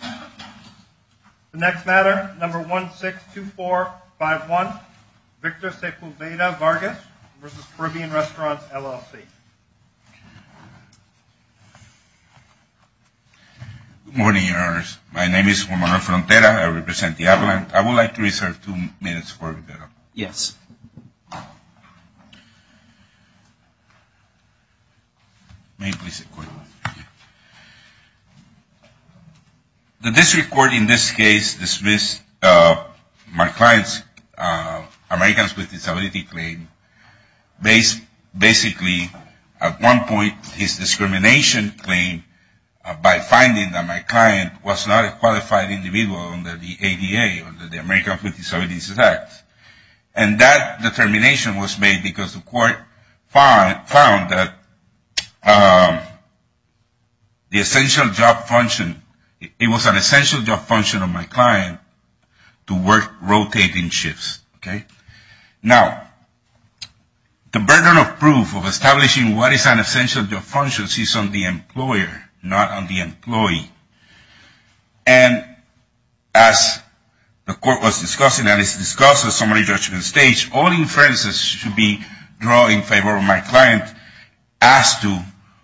The next matter, number 162451, Victor Sepulveda-Vargas v. Caribbean Restaurants, LLC. Good morning, your honors. My name is Juan Manuel Frontera. I represent the appellant. I would like to reserve two minutes for the appellant. Yes. May I please sit quickly? The district court in this case dismissed my client's Americans with Disabilities claim based basically at one point his discrimination claim by finding that my client was not a qualified individual under the ADA, under the Americans with Disabilities Act. And that determination was made because the court found that the essential job function, it was an essential job function of my client to work rotating shifts. Okay? Now, the burden of proof of establishing what is an essential job function sits on the employer, not on the employee. And as the court was discussing, and it's discussed at summary judgment stage, all inferences should be drawn in favor of my client as to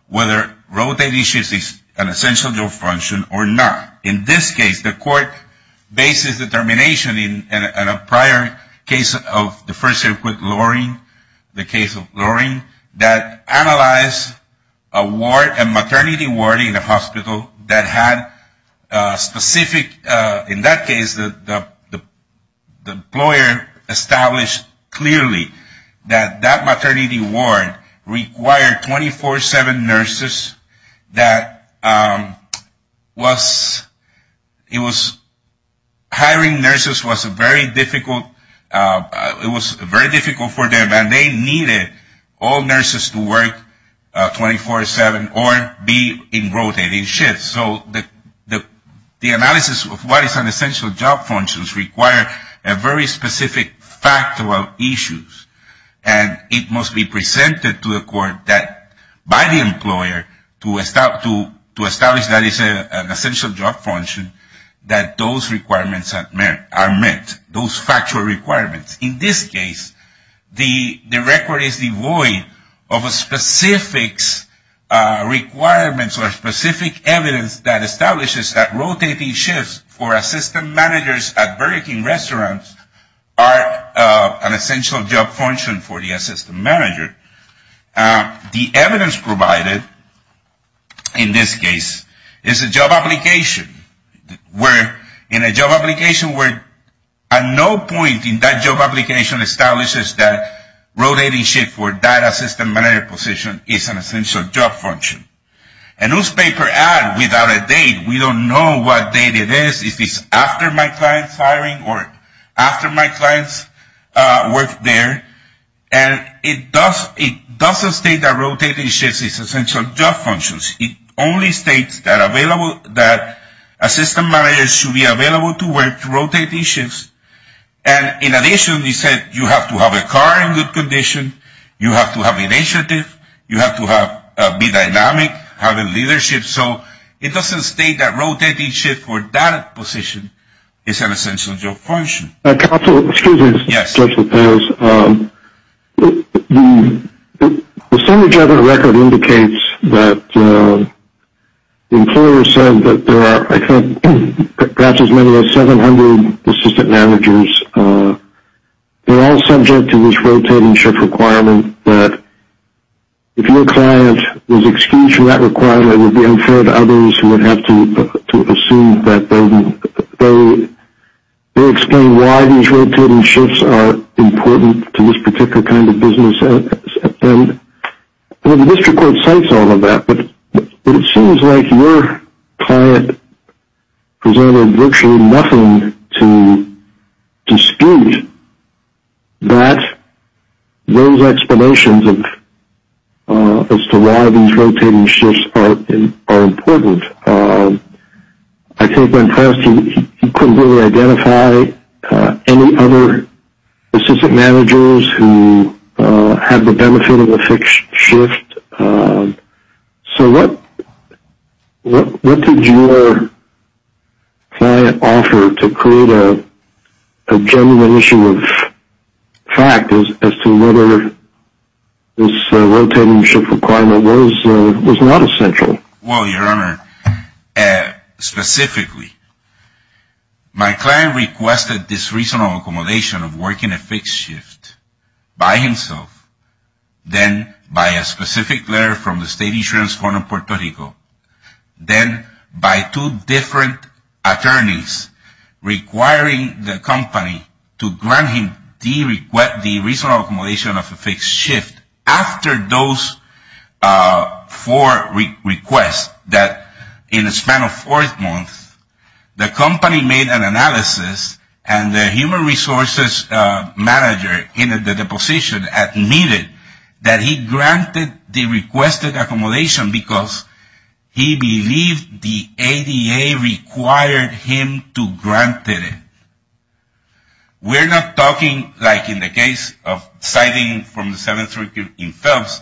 whether rotating shifts is an essential job function or not. In this case, the court bases the determination in a prior case of the first circuit luring, the case of luring, that analyzed a ward, a maternity ward in a hospital that had specific, in that case, the employer established clearly that that maternity ward required 24-7 nurses that was, it was, hiring nurses was very difficult. It was very difficult for them and they needed all nurses to work 24-7 or be in rotating shifts. So the analysis of what is an essential job function requires a very specific factual issue. And it must be presented to the court by the employer to establish that it's an essential job function, that those requirements are met, those factual requirements. In this case, the record is devoid of a specific requirement or specific evidence that establishes that rotating shifts for assistant managers at Burger King restaurants are an essential job function for the assistant manager. The evidence provided in this case is a job application where, in a job application where at no point in that job application establishes that rotating shift for that assistant manager position is an essential job function. A newspaper ad without a date, we don't know what date it is. Is this after my client's hiring or after my client's work there? And it doesn't state that rotating shifts is essential job functions. It only states that available, that assistant managers should be available to work rotating shifts. And in addition, you said you have to have a car in good condition, you have to have initiative, you have to be dynamic, have leadership. So it doesn't state that rotating shifts for that position is an essential job function. Counsel, excuse me. Yes. The standard job record indicates that the employer said that there are, I think, perhaps as many as 700 assistant managers. They're all subject to this rotating shift requirement that if your client was excused from that requirement, it would be unfair to others who would have to assume that they explain why these rotating shifts are important to this particular kind of business. Well, the district court cites all of that, but it seems like your client presented virtually nothing to dispute that those explanations as to why these rotating shifts are important. I think when pressed, he couldn't really identify any other assistant managers who had the benefit of a fixed shift. So what did your client offer to create a genuine issue of fact as to whether this rotating shift requirement was not essential? Well, Your Honor, specifically, my client requested this reasonable accommodation of working a fixed shift by himself, then by a specific letter from the state insurance firm in Puerto Rico, then by two different attorneys requiring the company to grant him the reasonable accommodation of a fixed shift after those four requests that in the span of four months, the company made an analysis and the human resources manager in the deposition admitted that he granted the requested accommodation because he believed the ADA required him to grant it. We're not talking like in the case of citing from the 732 in Phelps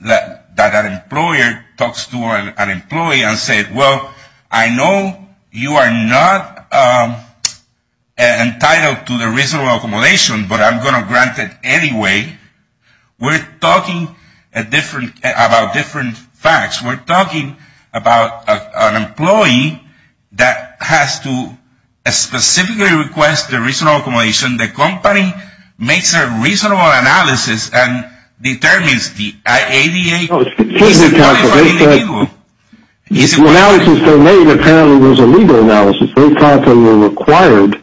that an employer talks to an employee and said, well, I know you are not entitled to the reasonable accommodation, but I'm going to grant it anyway. We're talking about different facts. We're talking about an employee that has to specifically request the reasonable accommodation. The company makes a reasonable analysis and determines the ADA. The analysis they made apparently was a legal analysis. They thought they were required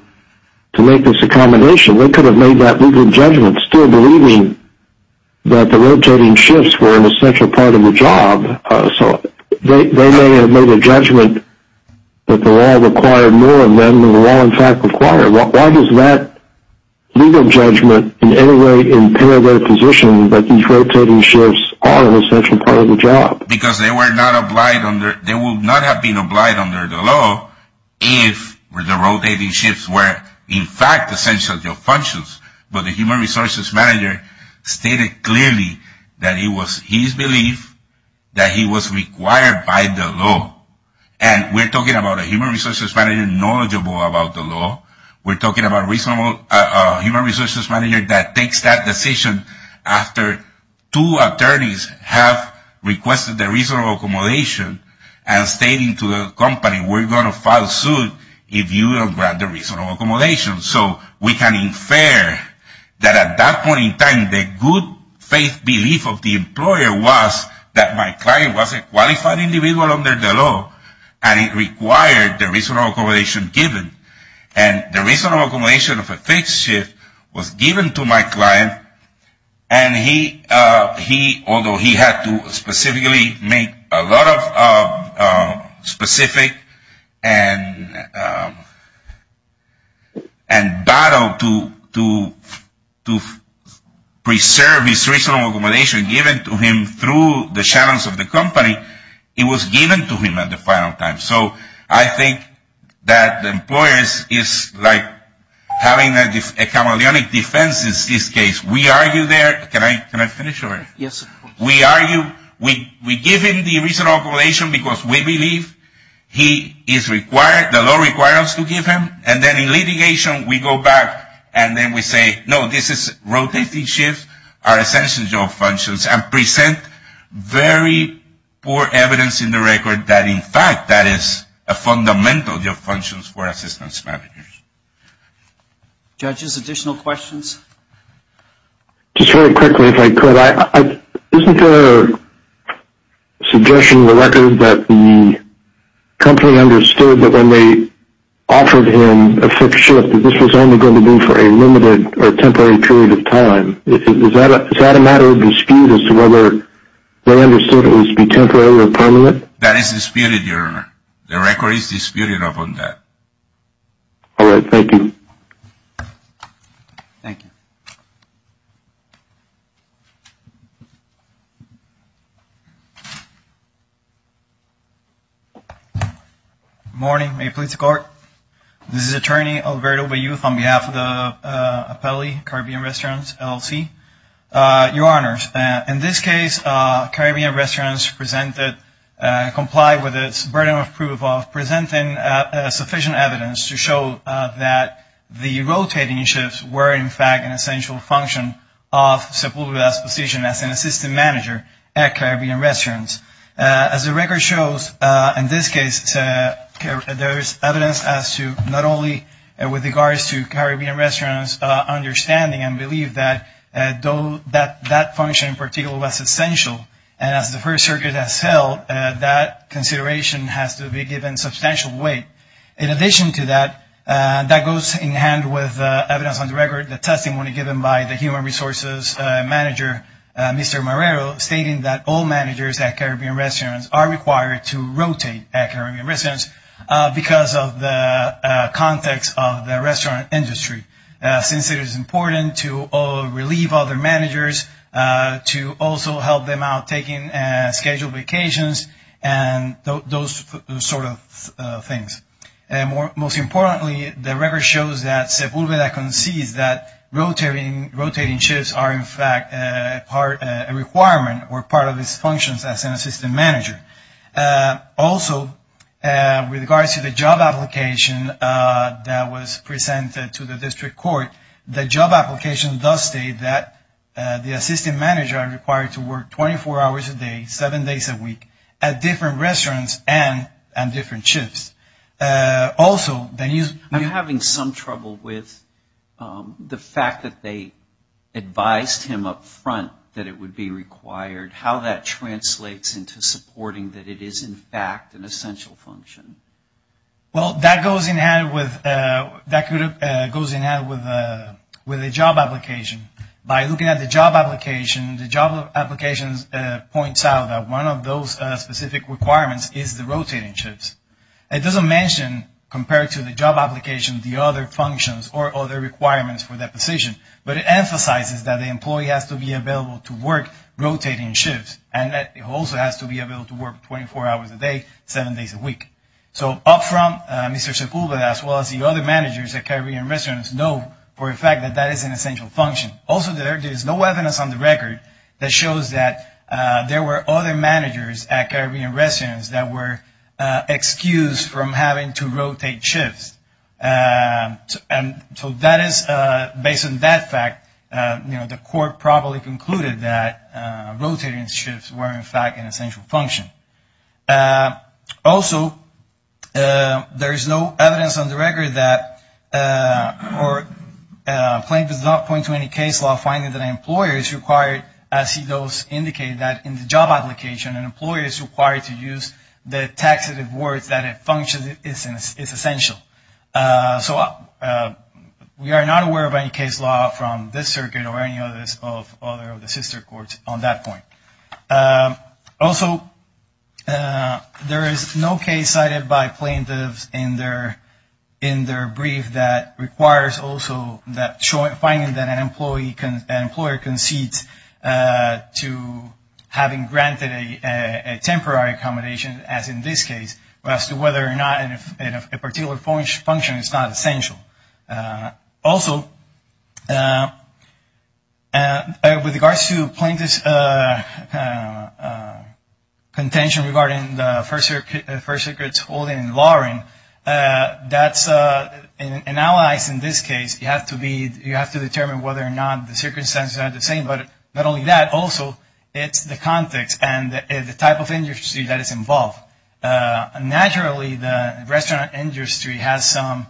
to make this accommodation. They could have made that legal judgment still believing that the rotating shifts were an essential part of the job, so they may have made a judgment that the law required more of them than the law in fact required. Why does that legal judgment in any way impair their position that these rotating shifts are an essential part of the job? Because they would not have been obliged under the law if the rotating shifts were in fact essential to their functions. But the human resources manager stated clearly that it was his belief that he was required by the law. And we're talking about a human resources manager knowledgeable about the law. We're talking about a human resources manager that takes that decision after two attorneys have requested the reasonable accommodation and stating to the company, we're going to file suit if you don't grant the reasonable accommodation. So we can infer that at that point in time the good faith belief of the employer was that my client was a qualified individual under the law and it required the reasonable accommodation given. And the reasonable accommodation of a fixed shift was given to my client, and he, although he had to specifically make a lot of specific and battle to preserve his reasonable accommodation given to him through the challenge of the company, it was given to him at the final time. So I think that employers is like having a chameleonic defense in this case. We argue there. Can I finish already? Yes, of course. We argue. We give him the reasonable accommodation because we believe he is required, the law requires us to give him. And then in litigation we go back and then we say, no, this is rotating shifts are essential job functions and present very poor evidence in the record that in fact that is a fundamental job functions for assistance managers. Judges, additional questions? Just very quickly, if I could. Isn't there a suggestion in the record that the company understood that when they offered him a fixed shift that this was only going to be for a limited or temporary period of time? Is that a matter of dispute as to whether they understood it was to be temporary or permanent? That is disputed, Your Honor. The record is disputed upon that. All right. Thank you. Good morning. May it please the Court. This is Attorney Alberto Bayuth on behalf of the Appellee Caribbean Restaurants LLC. Your Honors, in this case Caribbean Restaurants complied with its burden of proof of presenting sufficient evidence to show that the rotating shifts were in fact an essential function of Sepulveda's position as an assistant manager at Caribbean Restaurants. As the record shows, in this case, there is evidence as to not only with regards to Caribbean Restaurants' understanding and belief that that function in particular was essential, and as the First Circuit has held, that consideration has to be given substantial weight. In addition to that, that goes in hand with evidence on the record, the testimony given by the human resources manager, Mr. Marrero, stating that all managers at Caribbean Restaurants are required to rotate at Caribbean Restaurants because of the context of the restaurant industry, since it is important to relieve other managers, to also help them out taking scheduled vacations, and those sort of things. Most importantly, the record shows that Sepulveda concedes that rotating shifts are in fact a requirement or part of its functions as an assistant manager. Also, with regards to the job application that was presented to the District Court, the job application does state that the assistant managers are required to work 24 hours a day, seven days a week, at different restaurants and on different shifts. I'm having some trouble with the fact that they advised him up front that it would be required. How that translates into supporting that it is in fact an essential function? Well, that goes in hand with the job application. By looking at the job application, the job application points out that one of those specific requirements is the rotating shifts. It doesn't mention, compared to the job application, the other functions or other requirements for that position, but it emphasizes that the employee has to be available to work rotating shifts, and that he also has to be able to work 24 hours a day, seven days a week. So, up front, Mr. Sepulveda, as well as the other managers at Caribbean Restaurants, know for a fact that that is an essential function. Also, there is no evidence on the record that shows that there were other managers at Caribbean Restaurants that were excused from having to rotate shifts. So, based on that fact, the court probably concluded that rotating shifts were in fact an essential function. Also, there is no evidence on the record that a claim does not point to any case law finding that an employer is required, as those indicate, that in the job application, an employer is required to use the taxative words that a function is essential. So, we are not aware of any case law from this circuit or any of the other sister courts on that point. Also, there is no case cited by plaintiffs in their brief that requires also finding that an employer concedes to having granted a temporary accommodation, as in this case, as to whether or not a particular function is not essential. Also, with regards to plaintiffs' contention regarding the First Circuit's holding in Loring, that's, in our eyes in this case, you have to determine whether or not the circumstances are the same, but not only that, also, it's the context and the type of industry that is involved. Naturally, the restaurant industry has some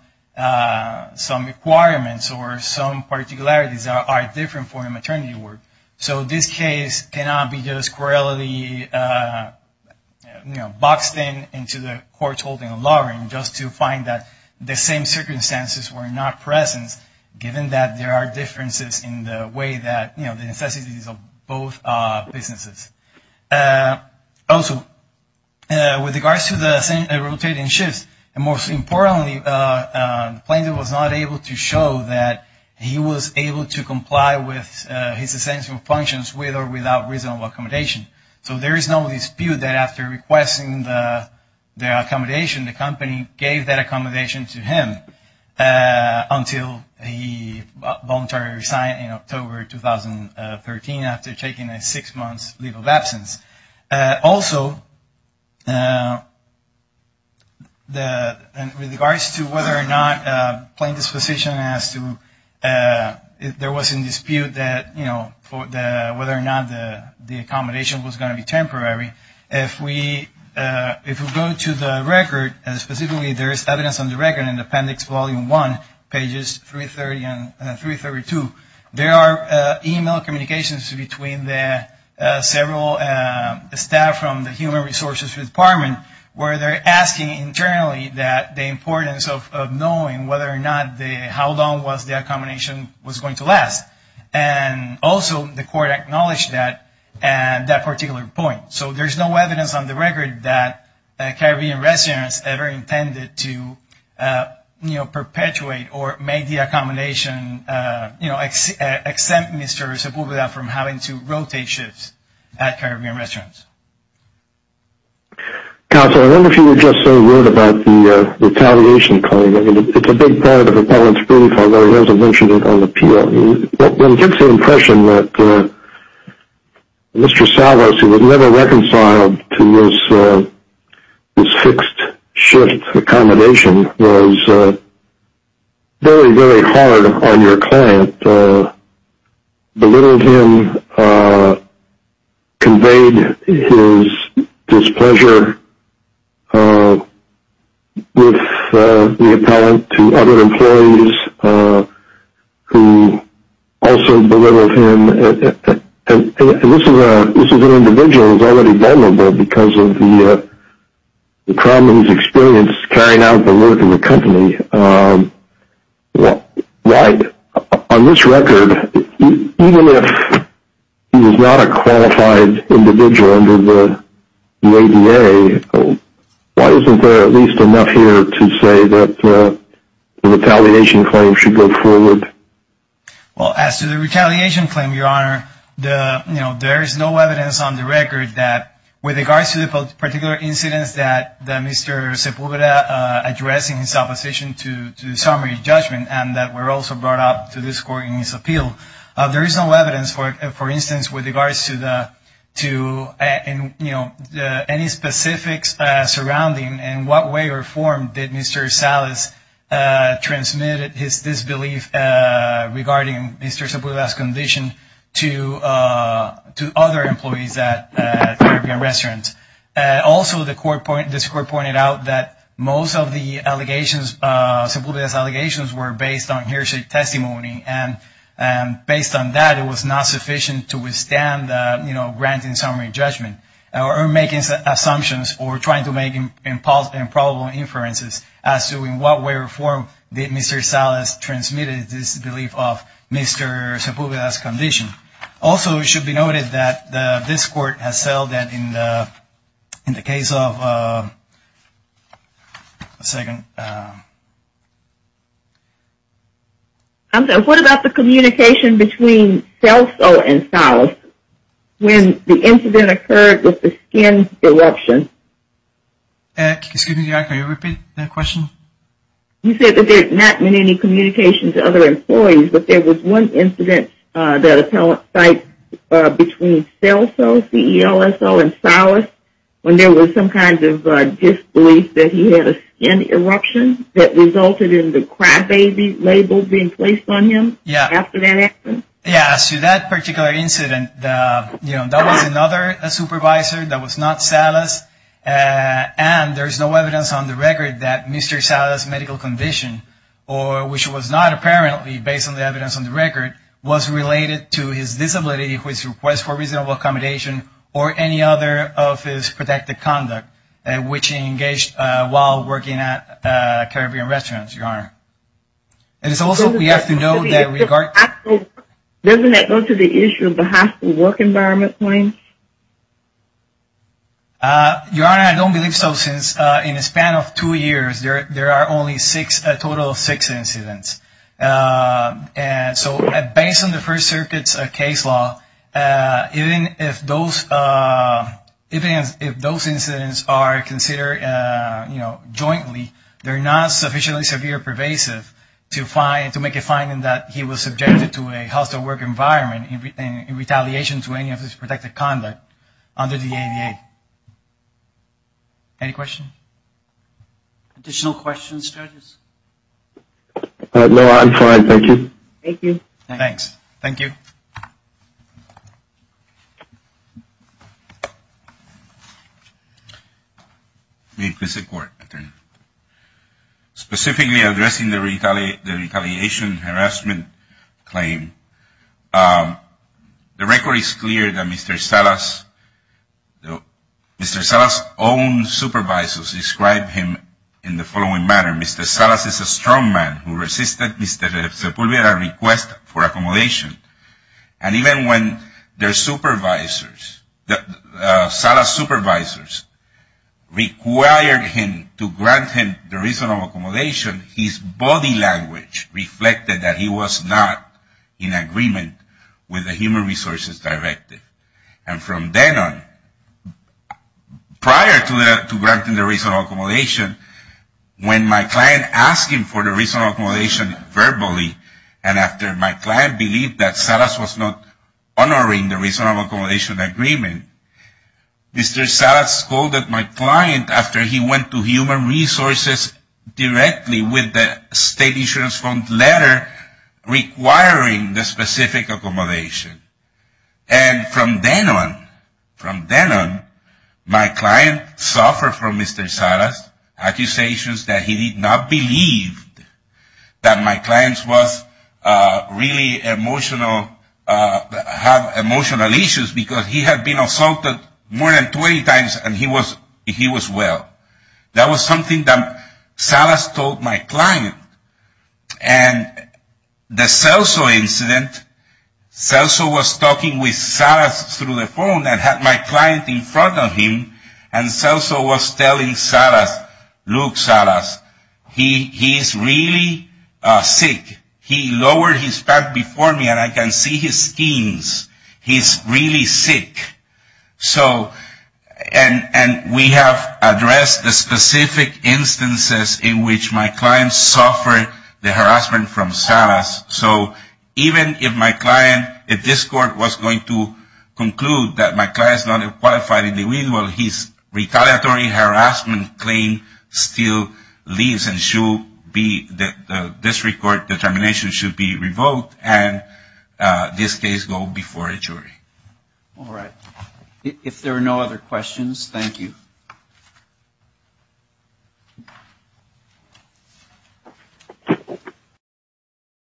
requirements or some particularities that are different for a maternity ward. So, this case cannot be just squarely, you know, boxed in into the court's holding in Loring just to find that the same circumstances were not present, given that there are differences in the way that, you know, the necessities of both businesses. Also, with regards to the rotating shifts, and most importantly, the plaintiff was not able to show that he was able to comply with his essential functions with or without reasonable accommodation. So, there is no dispute that after requesting the accommodation, the company gave that accommodation to him until he voluntarily resigned in October 2013 after taking a six-month leave of absence. Also, with regards to whether or not plaintiffs' position as to if there was any dispute that, you know, whether or not the accommodation was going to be temporary, if we go to the record, and specifically there is evidence on the record in Appendix Volume 1, pages 330 and 332, there are email communications between the several staff from the Human Resources Department where they're asking internally that the importance of knowing whether or not the, how long was the accommodation was going to last. And also, the court acknowledged that particular point. So, there's no evidence on the record that Caribbean residents ever intended to, you know, exempt Mr. Zabuglia from having to rotate shifts at Caribbean restaurants. Counsel, I wonder if you would just say a word about the retaliation claim. I mean, it's a big part of Appellant's brief, although he hasn't mentioned it on appeal. It gives the impression that Mr. Salvas, who had never reconciled to this fixed shift accommodation, was very, very hard on your client, belittled him, conveyed his displeasure with the appellant to other employees who also belittled him. And this is an individual who's already vulnerable because of the problem he's experienced carrying out the work in the company. On this record, even if he was not a qualified individual under the ADA, why isn't there at least enough here to say that the retaliation claim should go forward? Well, as to the retaliation claim, Your Honor, there is no evidence on the record that, with regards to the particular incidents that Mr. Zabuglia addressed in his opposition to summary judgment and that were also brought up to this court in his appeal, there is no evidence, for instance, with regards to any specifics surrounding in what way or form did Mr. Salvas transmit his disbelief regarding Mr. Zabuglia's condition to other employees at Caribbean restaurants. Also, this court pointed out that most of Zabuglia's allegations were based on hearsay testimony, and based on that, it was not sufficient to withstand granting summary judgment or making assumptions or trying to make improbable inferences as to in what way or form did Mr. Salvas transmit his disbelief of Mr. Zabuglia's condition. Also, it should be noted that this court has settled that in the case of – a second. What about the communication between CELSO and Salvas when the incident occurred with the skin eruption? Excuse me, Your Honor, can you repeat that question? You said that there had not been any communication to other employees, but there was one incident that appellant cited between CELSO, C-E-L-S-O, and Salvas when there was some kind of disbelief that he had a skin eruption that resulted in the crybaby label being placed on him after that accident? Yeah, so that particular incident, that was another supervisor that was not Salvas, and there's no evidence on the record that Mr. Salvas' medical condition, which was not apparently based on the evidence on the record, was related to his disability, his request for reasonable accommodation, or any other of his protected conduct, which he engaged while working at Caribbean restaurants, Your Honor. And it's also – we have to note that – Doesn't that go to the issue of the hospital work environment points? Your Honor, I don't believe so, since in the span of two years, there are only six – a total of six incidents. And so based on the First Circuit's case law, even if those incidents are considered jointly, they're not sufficiently severe pervasive to make a finding that he was subjected to a hospital work environment in retaliation to any of his protected conduct under the ADA. Additional questions, judges? No, I'm fine, thank you. Thank you. Thanks. Thank you. Specifically addressing the retaliation harassment claim, the record is clear that Mr. Salvas' own supervisors described him in the following manner. Mr. Salvas is a strong man who resisted Mr. Sepulveda's request for accommodation. And even when their supervisors, Salvas' supervisors, required him to grant him the reasonable accommodation, his body language reflected that he was not in agreement with the Human Resources Directive. And from then on, prior to granting the reasonable accommodation, when my client asked him for the reasonable accommodation verbally, and after my client believed that Salvas was not honoring the reasonable accommodation agreement, Mr. Salvas scolded my client after he went to Human Resources directly with the State Insurance Fund letter requiring the specific accommodation. And from then on, from then on, my client suffered from Mr. Salvas' accusations that he did not believe that my client was really emotional, had emotional issues because he had been assaulted more than 20 times and he was well. That was something that Salvas told my client. And the Celso incident, Celso was talking with Salvas through the phone and had my client in front of him, and Celso was telling Salvas, look, Salvas, he is really sick. He lowered his back before me and I can see his skin. He is really sick. So and we have addressed the specific instances in which my client suffered the harassment from Salvas. So even if my client, if this court was going to conclude that my client is not a qualified individual, his retaliatory harassment claim still leaves and this court determination should be revoked and this case go before a jury. All right. If there are no other questions, thank you.